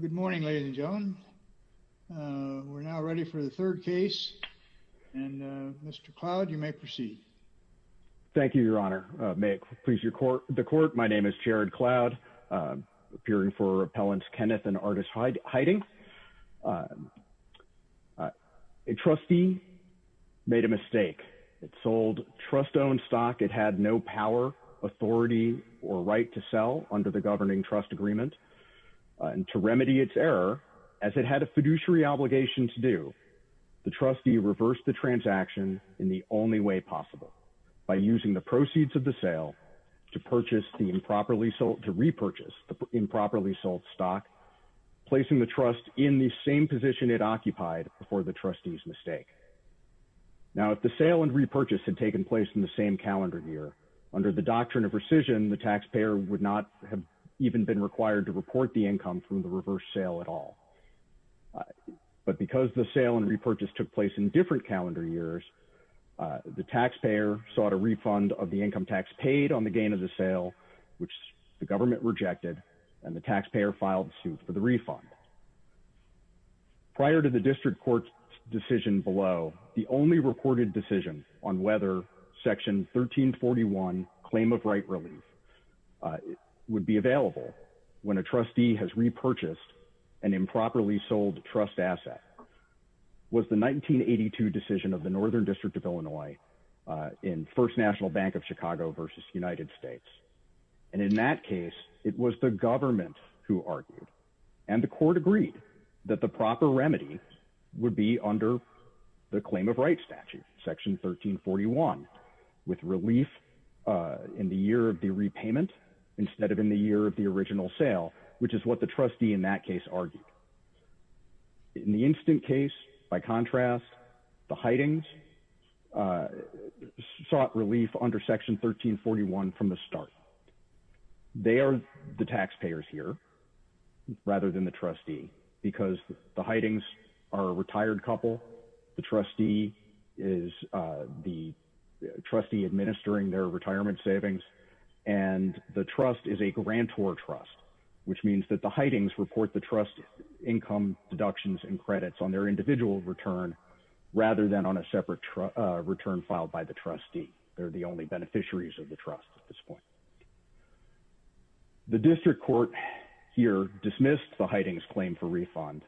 Good morning, ladies and gentlemen. We're now ready for the third case, and Mr. Cloud, you may proceed. Thank you, Your Honor. May it please the Court, my name is Jared Cloud, appearing for Appellants Kenneth and Artis Heiting. A trustee made a mistake. It sold trust-owned stock. It had no power, authority, or right to to remedy its error, as it had a fiduciary obligation to do. The trustee reversed the transaction in the only way possible, by using the proceeds of the sale to repurchase the improperly sold stock, placing the trust in the same position it occupied before the trustee's mistake. Now, if the sale and repurchase had taken place in the same calendar year, under the doctrine of rescission, the taxpayer would not have even been required to report the income from the reverse sale at all. But because the sale and repurchase took place in different calendar years, the taxpayer sought a refund of the income tax paid on the gain of the sale, which the government rejected, and the taxpayer filed suit for the refund. Prior to the District Court's decision below, the only reported decision on whether Section 1341, Claim of Right Relief, would be available when a trustee has repurchased an improperly sold trust asset, was the 1982 decision of the Northern District of Illinois in First National Bank of Chicago versus United States. And in that case, it was the government who argued. And the Court agreed that the proper remedy would be under the Claim of Right statute, Section 1341, with relief in the year of the repayment instead of in the year of the original sale, which is what the trustee in that case argued. In the instant case, by contrast, the hidings sought relief under Section 1341 from the start. They are the taxpayers here rather than the trustee is the trustee administering their retirement savings. And the trust is a grantor trust, which means that the hidings report the trust income deductions and credits on their individual return rather than on a separate return filed by the trustee. They're the only beneficiaries of the trust at this point. The District Court here dismissed the hidings claim for refund,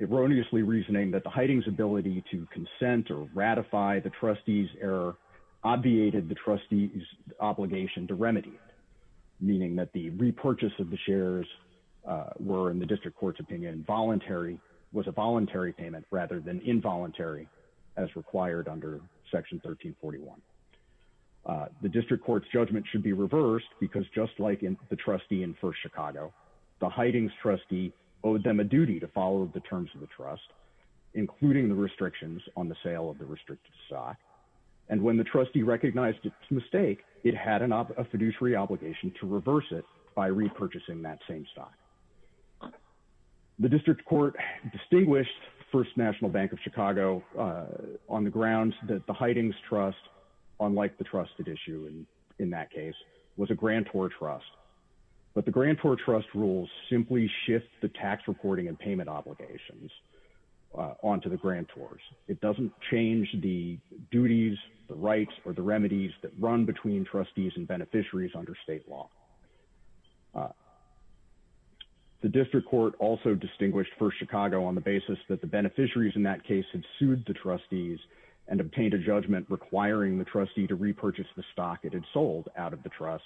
erroneously reasoning that the hidings ability to consent or ratify the trustee's error obviated the trustee's obligation to remedy, meaning that the repurchase of the shares were in the District Court's opinion voluntary, was a voluntary payment rather than involuntary as required under Section 1341. The District Court's judgment should be reversed because just like in the trustee in First Chicago, the hidings trustee owed them a duty to follow the terms of the trust, including the restrictions on the sale of the restricted stock. And when the trustee recognized its mistake, it had a fiduciary obligation to reverse it by repurchasing that same stock. The District Court distinguished First National Bank of Chicago on the grounds that the grantor trust rules simply shift the tax reporting and payment obligations onto the grantors. It doesn't change the duties, the rights, or the remedies that run between trustees and beneficiaries under state law. The District Court also distinguished First Chicago on the basis that the beneficiaries in that case had sued the trustees and obtained a judgment requiring the trustee to repurchase the stock it had sold out of the trust.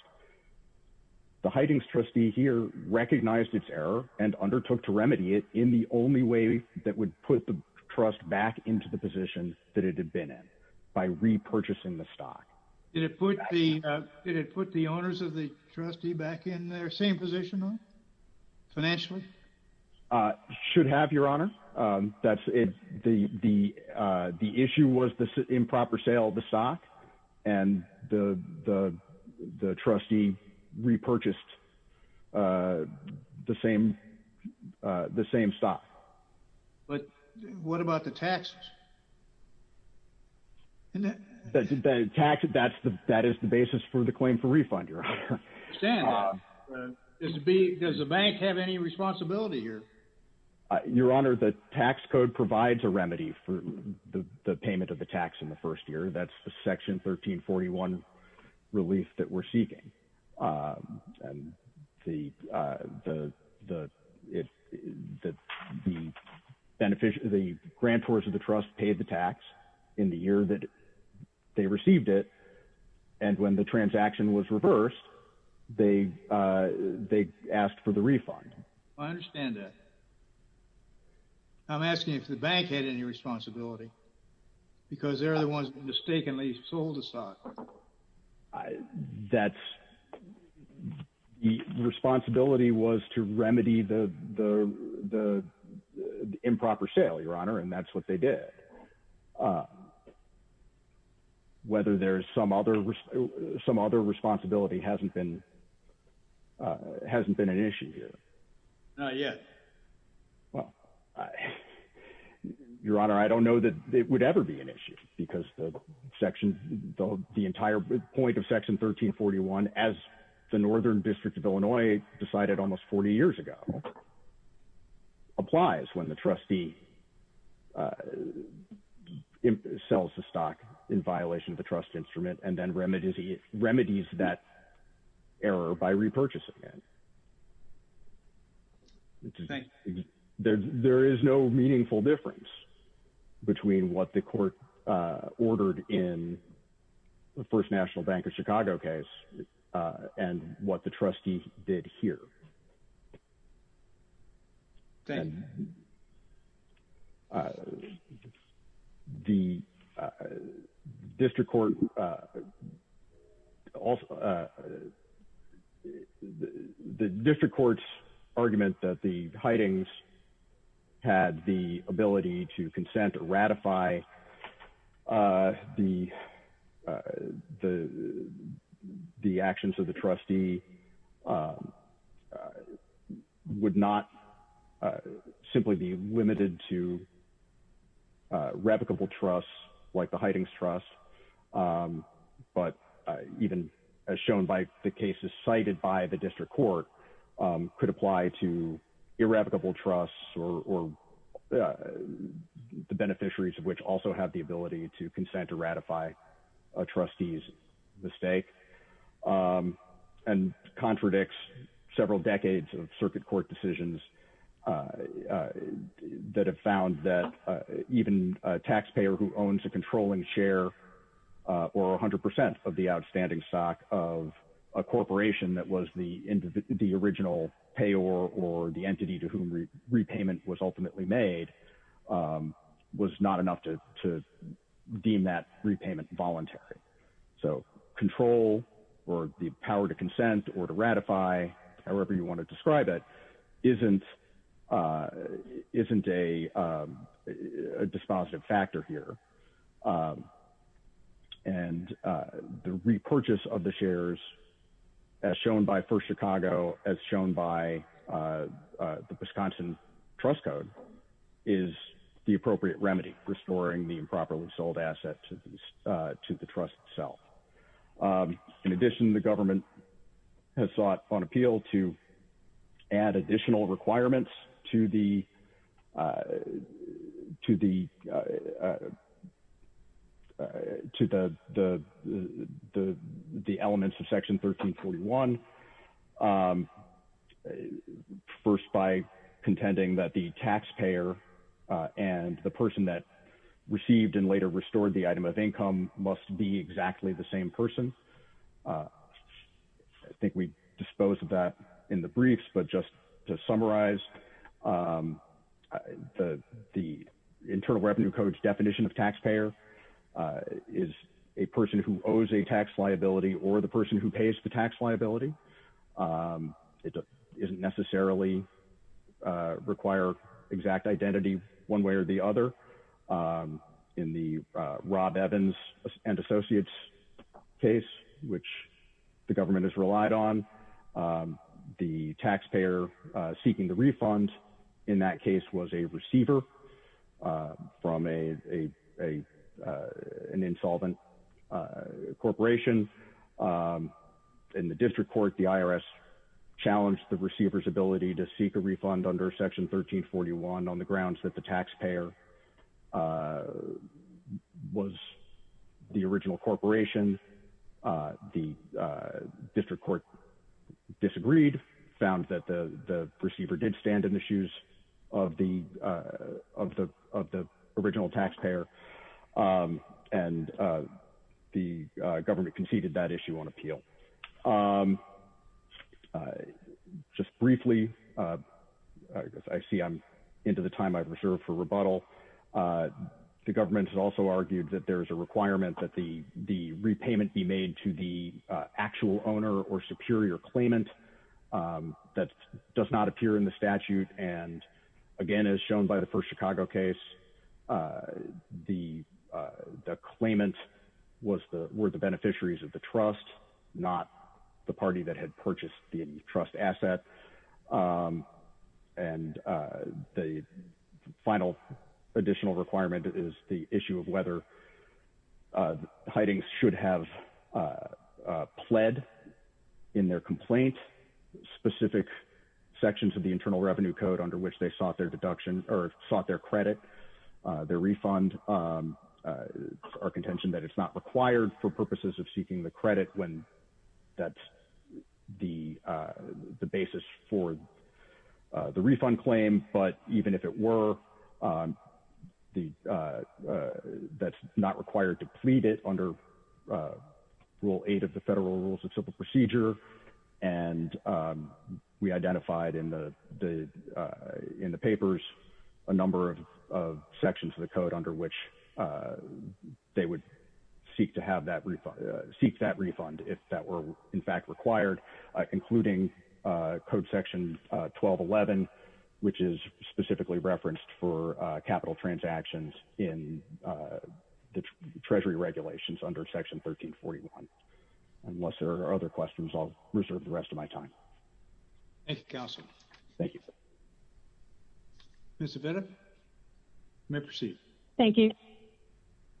The hidings trustee here recognized its error and undertook to remedy it in the only way that would put the trust back into the position that it had been in, by repurchasing the stock. Did it put the owners of the trustee back in their same position financially? It should have, Your Honor. The issue was the improper sale of the stock and the trustee repurchased the same stock. What about the taxes? That is the basis for the claim for refund, Your Honor. Does the bank have any responsibility here? Your Honor, the tax code provides a remedy for the payment of the tax in the first year. That's Section 1341 relief that we're seeking. The grantors of the trust paid the tax in the year that they received it, and when the transaction was reversed, they asked for the refund. I understand that. I'm asking if the bank had any responsibility, because they're the ones who mistakenly sold the stock. The responsibility was to remedy the improper sale, Your Honor, and that's what they did. Whether there's some other responsibility hasn't been an issue here. Not yet. Well, Your Honor, I don't know that it would ever be an issue, because the entire point of Section 1341, as the Northern District of Illinois decided almost 40 years ago, applies when the trustee sells the stock in violation of the trust instrument and then remedies that error by repurchasing it. Thank you. There is no meaningful difference between what the court ordered in the First National Bank of Chicago case and what the trustee did here. Thank you. The district court's argument that the hidings had the ability to consent or ratify the actions of the trustee would not simply be limited to revocable trusts like the Hidings Trust, but even as shown by the cases cited by the district court, could apply to irrevocable trusts or the beneficiaries of which also have the ability to consent to ratify a trustee's mistake and contradicts several decades of circuit court decisions that have found that even a taxpayer who owns a controlling share or 100% of the outstanding stock of a corporation that was the original payor or the entity to whom repayment was ultimately made was not enough to deem that repayment voluntary. So control or the power to consent or to ratify however you want to describe it isn't a dispositive factor here. And the repurchase of the shares as shown by First Chicago as shown by the Wisconsin trust code is the appropriate remedy for storing the improperly sold asset to the trust itself. In addition, the government has sought on appeal to add additional requirements to the to the elements of section 1341, first by contending that the taxpayer and the person that received and later restored the item of income must be exactly the same person. I think we disposed of that in the briefs, but just to summarize, the Internal Revenue Code's definition of taxpayer is a person who owes a tax liability or the person who pays the tax liability. It doesn't necessarily require exact identity one way or the other. In the Rob Evans and Associates case, which the government has relied on, the taxpayer seeking the refund in that case was a receiver from an insolvent corporation. In the district court, the IRS challenged the receiver's ability to seek a refund under section 1341 on the grounds that the taxpayer was the original corporation. The district court disagreed, found that the receiver did stand in the shoes of the original taxpayer, and the government conceded that issue on appeal. Just briefly, I see I'm into the time I've reserved for rebuttal. The government has also argued that there is a requirement that the repayment be made to the actual owner or superior claimant that does not appear in the statute. And again, as shown by the first Chicago case, the claimant were the beneficiaries of the trust, not the party that had purchased the trust asset. And the final additional requirement is the issue of whether hidings should have pled in their complaint specific sections of the Internal Revenue Code under which they sought their credit. Their refund, our contention that it's not required for purposes of seeking the credit when that's the basis for the refund claim. But even if it were, that's not required to plead it under Rule 8 of the Federal Rules of Simple Procedure. And we identified in the papers a number of sections of the code under which they would seek that refund if that were in fact required, including Code Section 1211, which is specifically referenced for capital transactions in the Treasury regulations under Section 1341. Unless there are other questions, I'll reserve the rest of my time. Thank you, counsel. Thank you. Ms. Avetta, you may proceed. Thank you.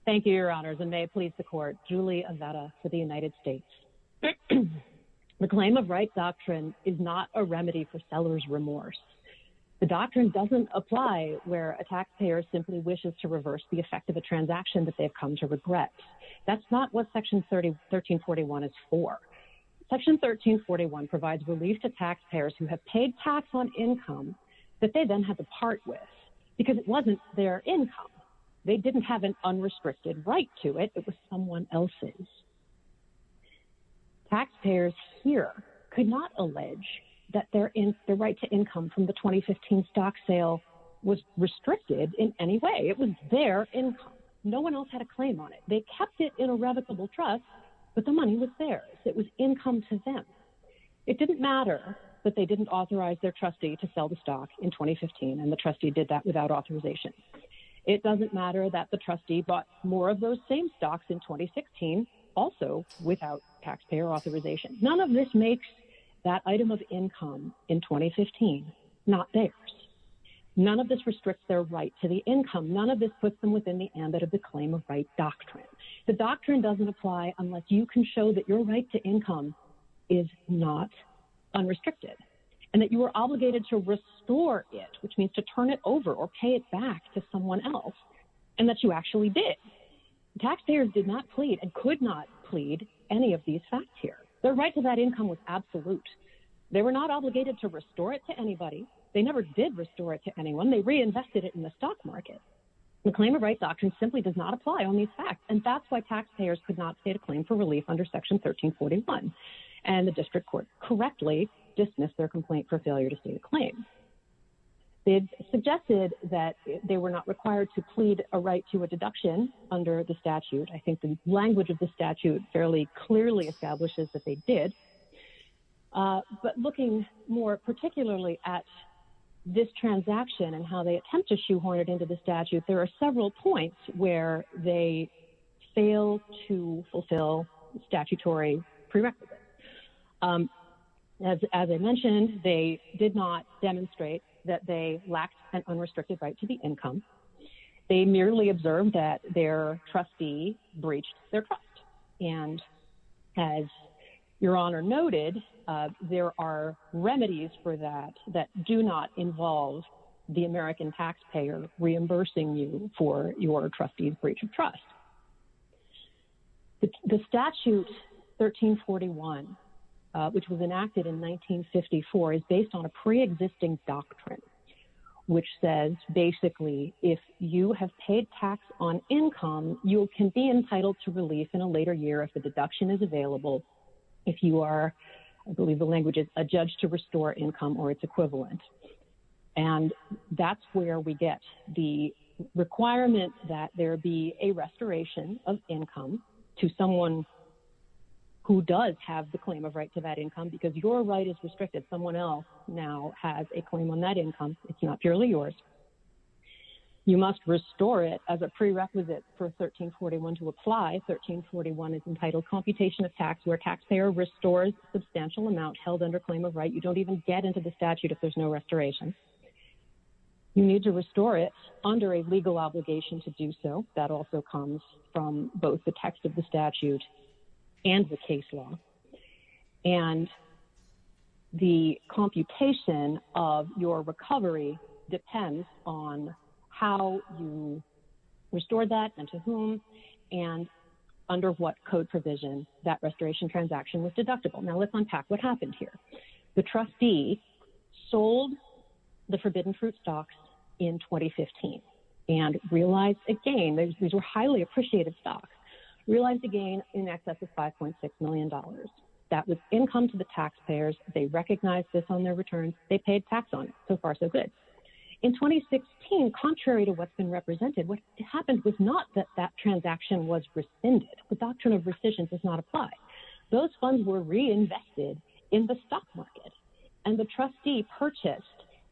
Thank you, Your Honors. And may it please the Court, Julie Avetta for the United States. The claim of right doctrine is not a remedy for seller's remorse. The doctrine doesn't apply where a taxpayer simply wishes to reverse the effect of a transaction that they've come to regret. That's not what Section 1341 is for. Section 1341 provides relief to taxpayers who have paid tax on income that they then have a part with, because it wasn't their income. They didn't have an unrestricted right to it. It was someone else's. Taxpayers here could not allege that their right to income from the 2015 stock sale was restricted in any way. It was their income. No one else had a claim on it. They kept it in their hands. It didn't matter that they didn't authorize their trustee to sell the stock in 2015, and the trustee did that without authorization. It doesn't matter that the trustee bought more of those same stocks in 2016, also without taxpayer authorization. None of this makes that item of income in 2015 not theirs. None of this restricts their right to the income. None of this puts them within the ambit of the claim of right doctrine. The doctrine doesn't apply unless you can show that your right to income is not unrestricted, and that you are obligated to restore it, which means to turn it over or pay it back to someone else, and that you actually did. Taxpayers did not plead, and could not plead, any of these facts here. Their right to that income was absolute. They were not obligated to restore it to anybody. They never did restore it to anyone. They reinvested it in the stock market. The claim of right doctrine simply does not apply on these facts, and that's why taxpayers could not state a claim for relief under section 1341, and the district court correctly dismissed their complaint for failure to state a claim. It suggested that they were not required to plead a right to a deduction under the statute. I think the language of the statute fairly clearly establishes that they did, but looking more particularly at this transaction and how they attempt to shoehorn it into the statute, there are several points where they fail to fulfill statutory prerequisites. As I mentioned, they did not demonstrate that they lacked an unrestricted right to the income. They merely observed that their trustee breached their trust, and as Your Honor noted, there are remedies for that that do not involve the American taxpayer reimbursing you for your trustee's breach of trust. The statute 1341, which was enacted in 1954, is based on a preexisting doctrine, which says basically if you have paid tax on income, you can be entitled to relief in a later year if the deduction is available, if you are, I believe the language is, a judge to restore income or its equivalent, and that's where we get the requirement that there be a restoration of income to someone who does have the claim of right to that income because your right is restricted. Someone else now has a claim on that income. It's not purely yours. You must restore it as a prerequisite for 1341 to apply. 1341 is entitled computation of tax where taxpayer restores substantial amount held under claim of right. You don't even get into the statute if there's no restoration. You need to restore it under a legal obligation to do so. That also comes from both the text of the statute and the case law, and the computation of your recovery depends on how you restore that and to whom and under what code provision that restoration transaction was here. The trustee sold the forbidden fruit stocks in 2015 and realized again, these were highly appreciated stocks, realized again in excess of $5.6 million. That was income to the taxpayers. They recognized this on their return. They paid tax on it. So far, so good. In 2016, contrary to what's been represented, what happened was not that that transaction was rescinded. The the stock market and the trustee purchased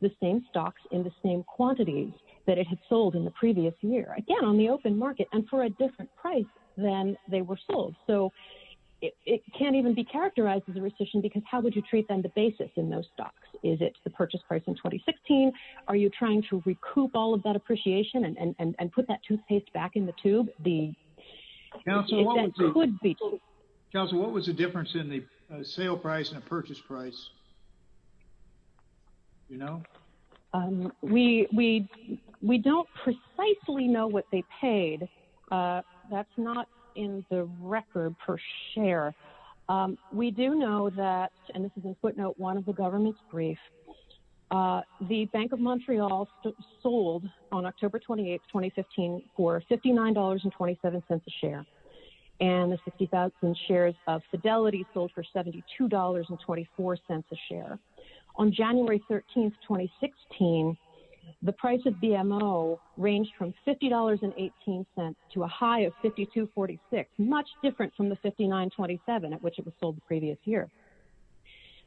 the same stocks in the same quantities that it had sold in the previous year. Again, on the open market and for a different price than they were sold. So it can't even be characterized as a rescission because how would you treat them to basis in those stocks? Is it the purchase price in 2016? Are you trying to recoup all of that appreciation and put that toothpaste back in the tube? The- Counsel, what was the difference in the sale price and the purchase price? You know? We don't precisely know what they paid. That's not in the record per share. We do know that, and this is a footnote, one of the government's brief, the Bank of Montreal sold on October 28th, 2015, for $59.27 a share. And the 60,000 shares of Fidelity sold for $72.24 a share. On January 13th, 2016, the price of BMO ranged from $50.18 to a high of $52.46, much different from the $59.27 at which it was sold the previous year.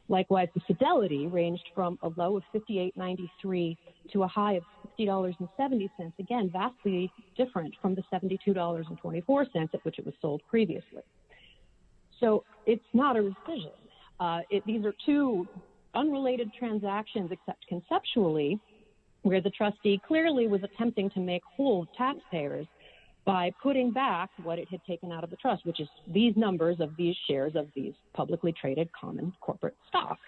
Likewise, the Fidelity ranged from a low of $58.93 to a high of $50.70, again, vastly different from the $72.24 at which it was sold previously. So it's not a rescission. These are two unrelated transactions, except conceptually, where the trustee clearly was attempting to make whole taxpayers by putting back what it had taken out of the trust, which is these numbers of these shares of these publicly traded common corporate stocks.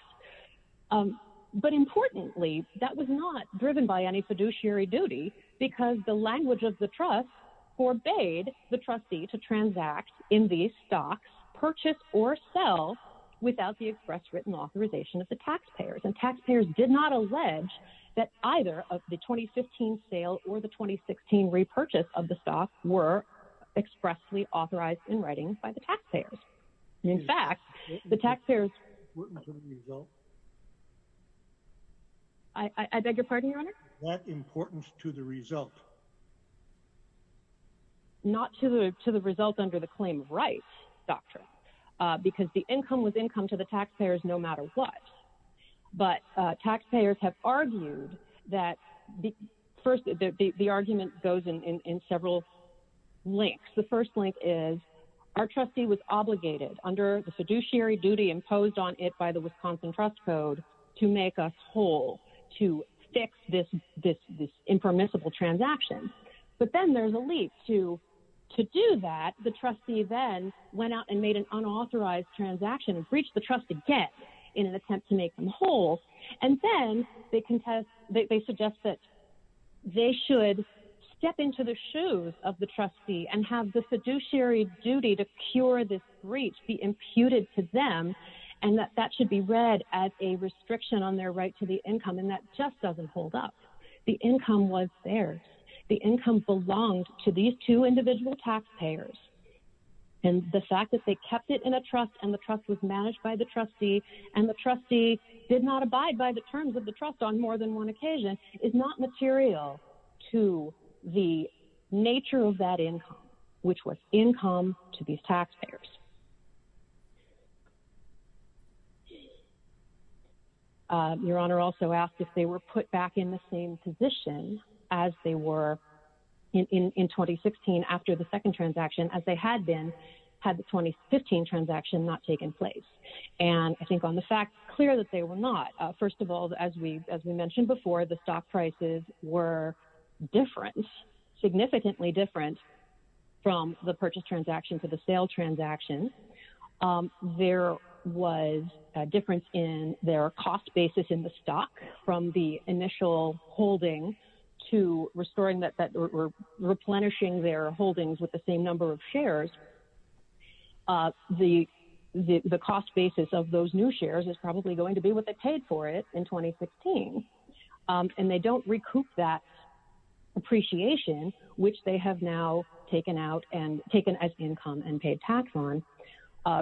But importantly, that was not driven by any fiduciary duty, because the language of the trust forbade the trustee to transact in these stocks, purchase or sell without the express written authorization of the taxpayers. And taxpayers did not allege that either of the 2015 sale or the taxpayers. In fact, the taxpayers... I beg your pardon, Your Honor? Is that important to the result? Not to the result under the claim of rights doctrine, because the income was income to the taxpayers no matter what. But taxpayers have argued that... First, the argument goes in several links. The first link is our trustee was obligated under the fiduciary duty imposed on it by the Wisconsin Trust Code to make us whole, to fix this impermissible transaction. But then there's a leap to do that. The trustee then went out and made an unauthorized transaction and breached the trust again in an attempt to make them whole. And then they suggest that they should step into the shoes of the trustee and have the fiduciary duty to cure this breach be imputed to them, and that that should be read as a restriction on their right to the income. And that just doesn't hold up. The income was theirs. The income belonged to these two individual taxpayers. And the fact that they kept it in a trust and the trust was managed by the trustee and the trustee did not abide by the terms of the trust on more than one occasion is not material to the nature of that income, which was income to these taxpayers. Your Honor also asked if they were put back in the same position as they were in 2016 after the second transaction as they had been had the 2015 transaction not taken place. And I think on as we mentioned before, the stock prices were different, significantly different from the purchase transaction to the sale transaction. There was a difference in their cost basis in the stock from the initial holding to restoring that replenishing their holdings with the same number of shares. The cost basis of those new shares is probably going to be what they paid for it in 2016. And they don't recoup that appreciation, which they have now taken out and taken as income and paid tax on.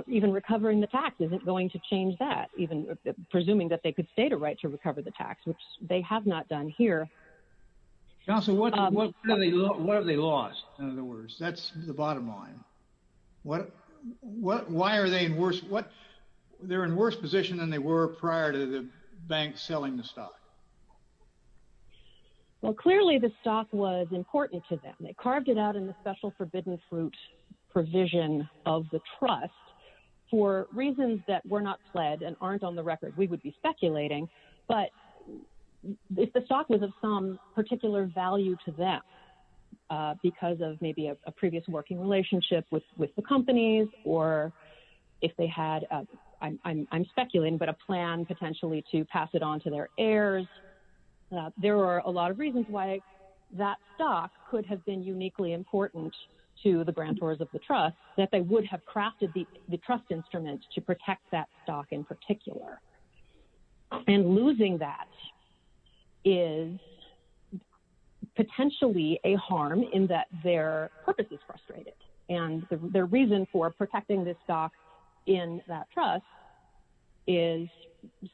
Even recovering the tax isn't going to change that, even presuming that they could state a right to recover the tax, which they have not done here. Counsel, what have they lost? None of the worst. That's the bottom line. Why are they in worse? They're in worse position than they were prior to the bank selling the stock. Well, clearly the stock was important to them. They carved it out in the special forbidden fruit provision of the trust for reasons that were not pled and aren't on the record. We would be speculating. But if the stock was of some particular value to them because of maybe a previous working relationship with the companies or if they had, I'm speculating, but a plan potentially to pass it on to their heirs, there are a lot of reasons why that stock could have been uniquely important to the grantors of the trust that they would have crafted the trust instrument to protect that stock in particular. And losing that is potentially a harm in that their purpose is frustrated. And the reason for protecting this stock in that trust is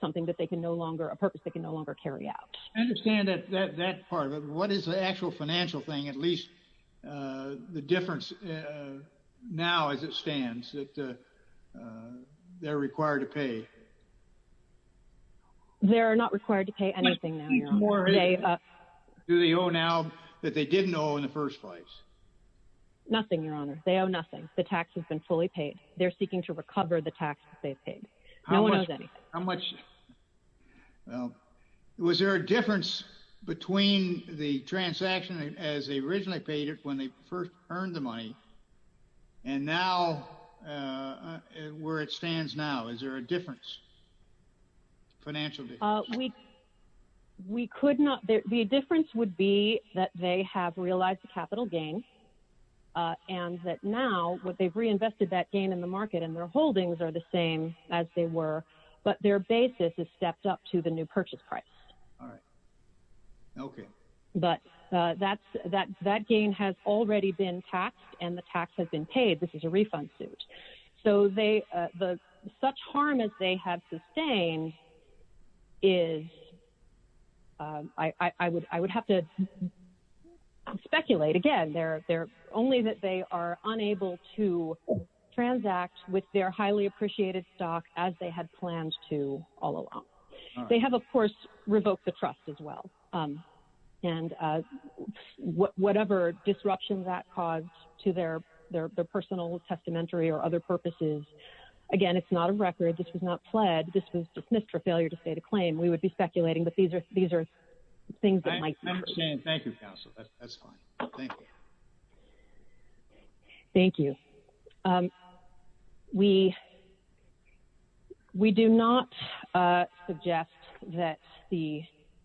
something that they can no longer a purpose they can no longer carry out. I understand that part of it. What is the actual financial thing, at least the difference now as it stands that they're required to pay? They're not required to pay anything. Do they owe now that they didn't owe in the first place? Nothing, Your Honor. They owe nothing. The tax has been fully paid. They're seeking to recover the tax that they've paid. No one owes anything. How much? Well, was there a difference between the transaction as they originally paid it when they first earned the money and now where it stands now? Is there a difference? A financial difference. We could not. The difference would be that they have realized the capital gain and that now what they've reinvested that gain in the market and their holdings are the same as they were, but their basis is stepped up to the new purchase price. All right. Okay. But that gain has already been taxed and the tax has been paid. This is a refund suit. So such harm as they have sustained is, I would have to speculate again, only that they are unable to transact with their highly appreciated stock as they had planned to all along. They have, of course, revoked the trust as well. And whatever disruption that caused to their personal testamentary or other purposes, again, it's not a record. This was not pled. This was dismissed for failure to state a claim. We would be speculating, but these are things that might. Thank you, counsel. That's fine. Thank you. Thank you. We do not suggest that the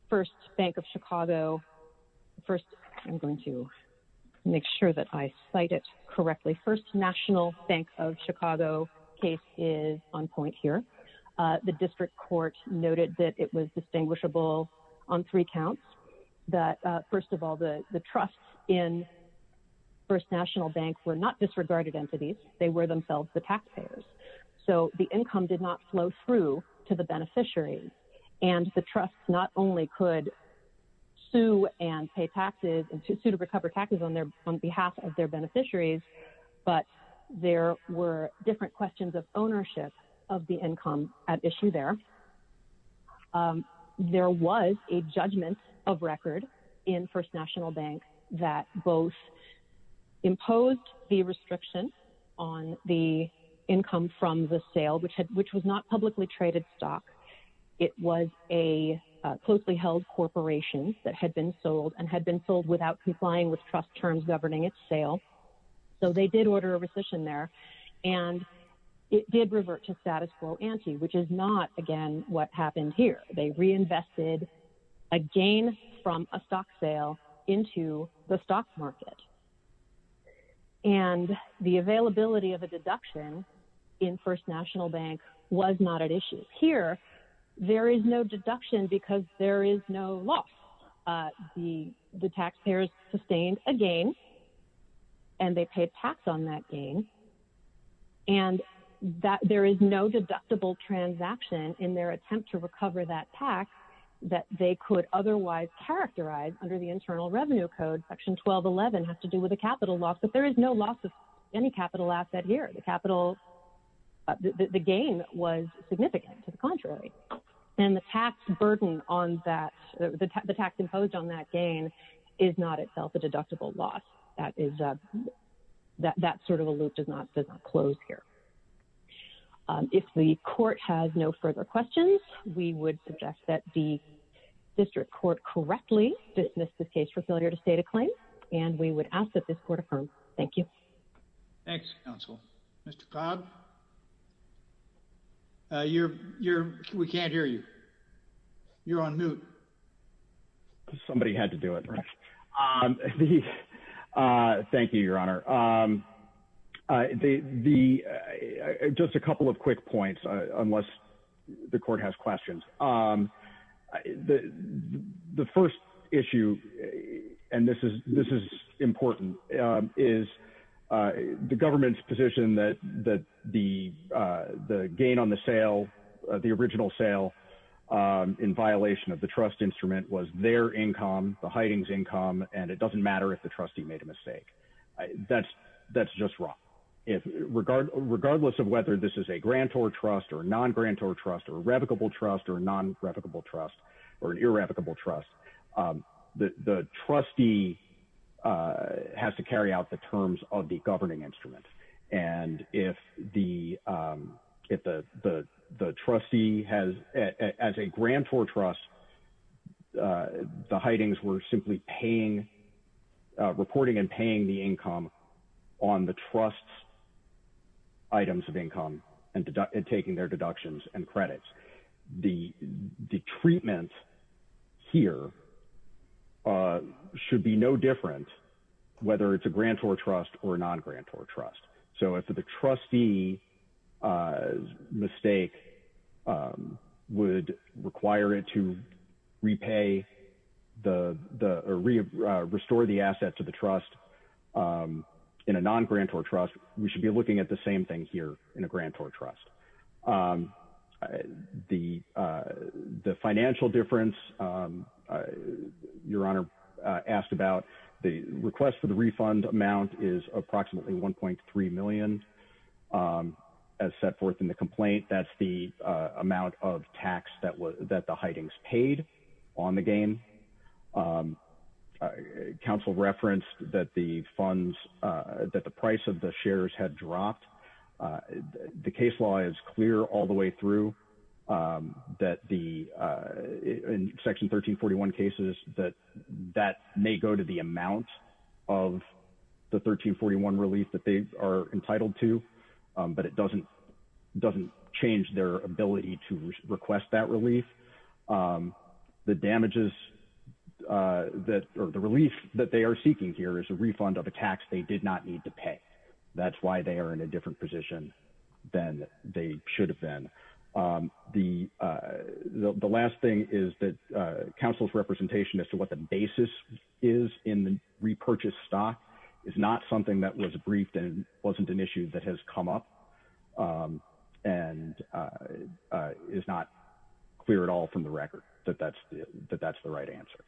first Bank of Chicago, first, I'm going to make sure that I cite it correctly. First National Bank of Chicago case is on point here. The district court noted that it was distinguishable on three counts that, first of all, the trust in First National Bank were not disregarded entities. They were themselves the taxpayers. So the income did not flow through to the beneficiary and the trust not only could sue and pay taxes and sue to recover taxes on behalf of their beneficiaries, but there were different questions of ownership of the income at issue there. There was a judgment of record in First National Bank that both imposed the restriction on the income from the sale, which was not publicly traded stock. It was a closely held corporation that had been sold and had been sold without complying with trust terms governing its sale. So they did order a rescission there and it did revert to status quo ante, which is not, again, what happened here. They reinvested a gain from a stock sale into the stock market. And the availability of a deduction in First National Bank was not at issue. Here, there is no deduction because there is no loss. The taxpayers sustained a gain and they paid tax on that gain. And there is no deductible transaction in their attempt to recover that tax that they could otherwise characterize under the Internal Revenue Code, section 1211, has to do with a capital loss. But there is no loss of any capital asset here. The capital, the gain was significant, to the contrary. And the tax burden on that, the tax imposed on that gain is not itself a deductible loss. That sort of a loop does not close here. If the court has no further questions, we would suggest that the district court correctly dismiss this case for failure to state a claim and we would ask that this court affirm. Thank you. Thanks, counsel. Mr. Cobb? You're, you're, we can't hear you. You're on mute. Somebody had to do it. Thank you, Your Honor. The, the, just a couple of quick points, unless the court has questions. The, the first issue, and this is, this is important, is the government's position that, that the, the gain on the sale, the original sale in violation of the trust instrument was their income, the hidings income, and it doesn't matter if the trustee made a mistake. That's, that's just wrong. If regard, regardless of whether this is a grantor trust or a non-grantor trust or a non-revocable trust or an irrevocable trust, the, the trustee has to carry out the terms of the governing instrument. And if the, if the, the, the trustee has, as a grantor trust, the hidings were simply paying, reporting and paying the income on the trust's and credits. The, the treatment here should be no different whether it's a grantor trust or a non-grantor trust. So if the trustee's mistake would require it to repay the, the, restore the asset to the trust in a non-grantor trust, we should be looking at the same thing here in a non-grantor trust. The, the financial difference, Your Honor asked about the request for the refund amount is approximately 1.3 million. As set forth in the complaint, that's the amount of tax that was, that the hidings paid on the gain. Council referenced that the funds, that the price of the shares had dropped. The case law is clear all the way through that the, in section 1341 cases, that, that may go to the amount of the 1341 relief that they are entitled to, but it doesn't, doesn't change their ability to request that relief. The damages that, or the relief that they are seeking here is a refund of a tax they did not need to pay. That's why they are in a different position than they should have been. The, the last thing is that council's representation as to what the basis is in the repurchase stock is not something that was briefed and wasn't an issue that has come up and is not clear at all from the record that that's, that that's the right answer.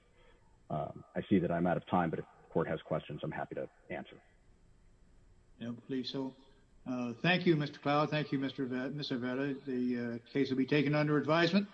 I see that I'm out of time, but if the court has questions, I'm happy to answer. Yeah, please. So, thank you, Mr. Cloud. Thank you, Mr. Vetter. The case will be taken under advisement.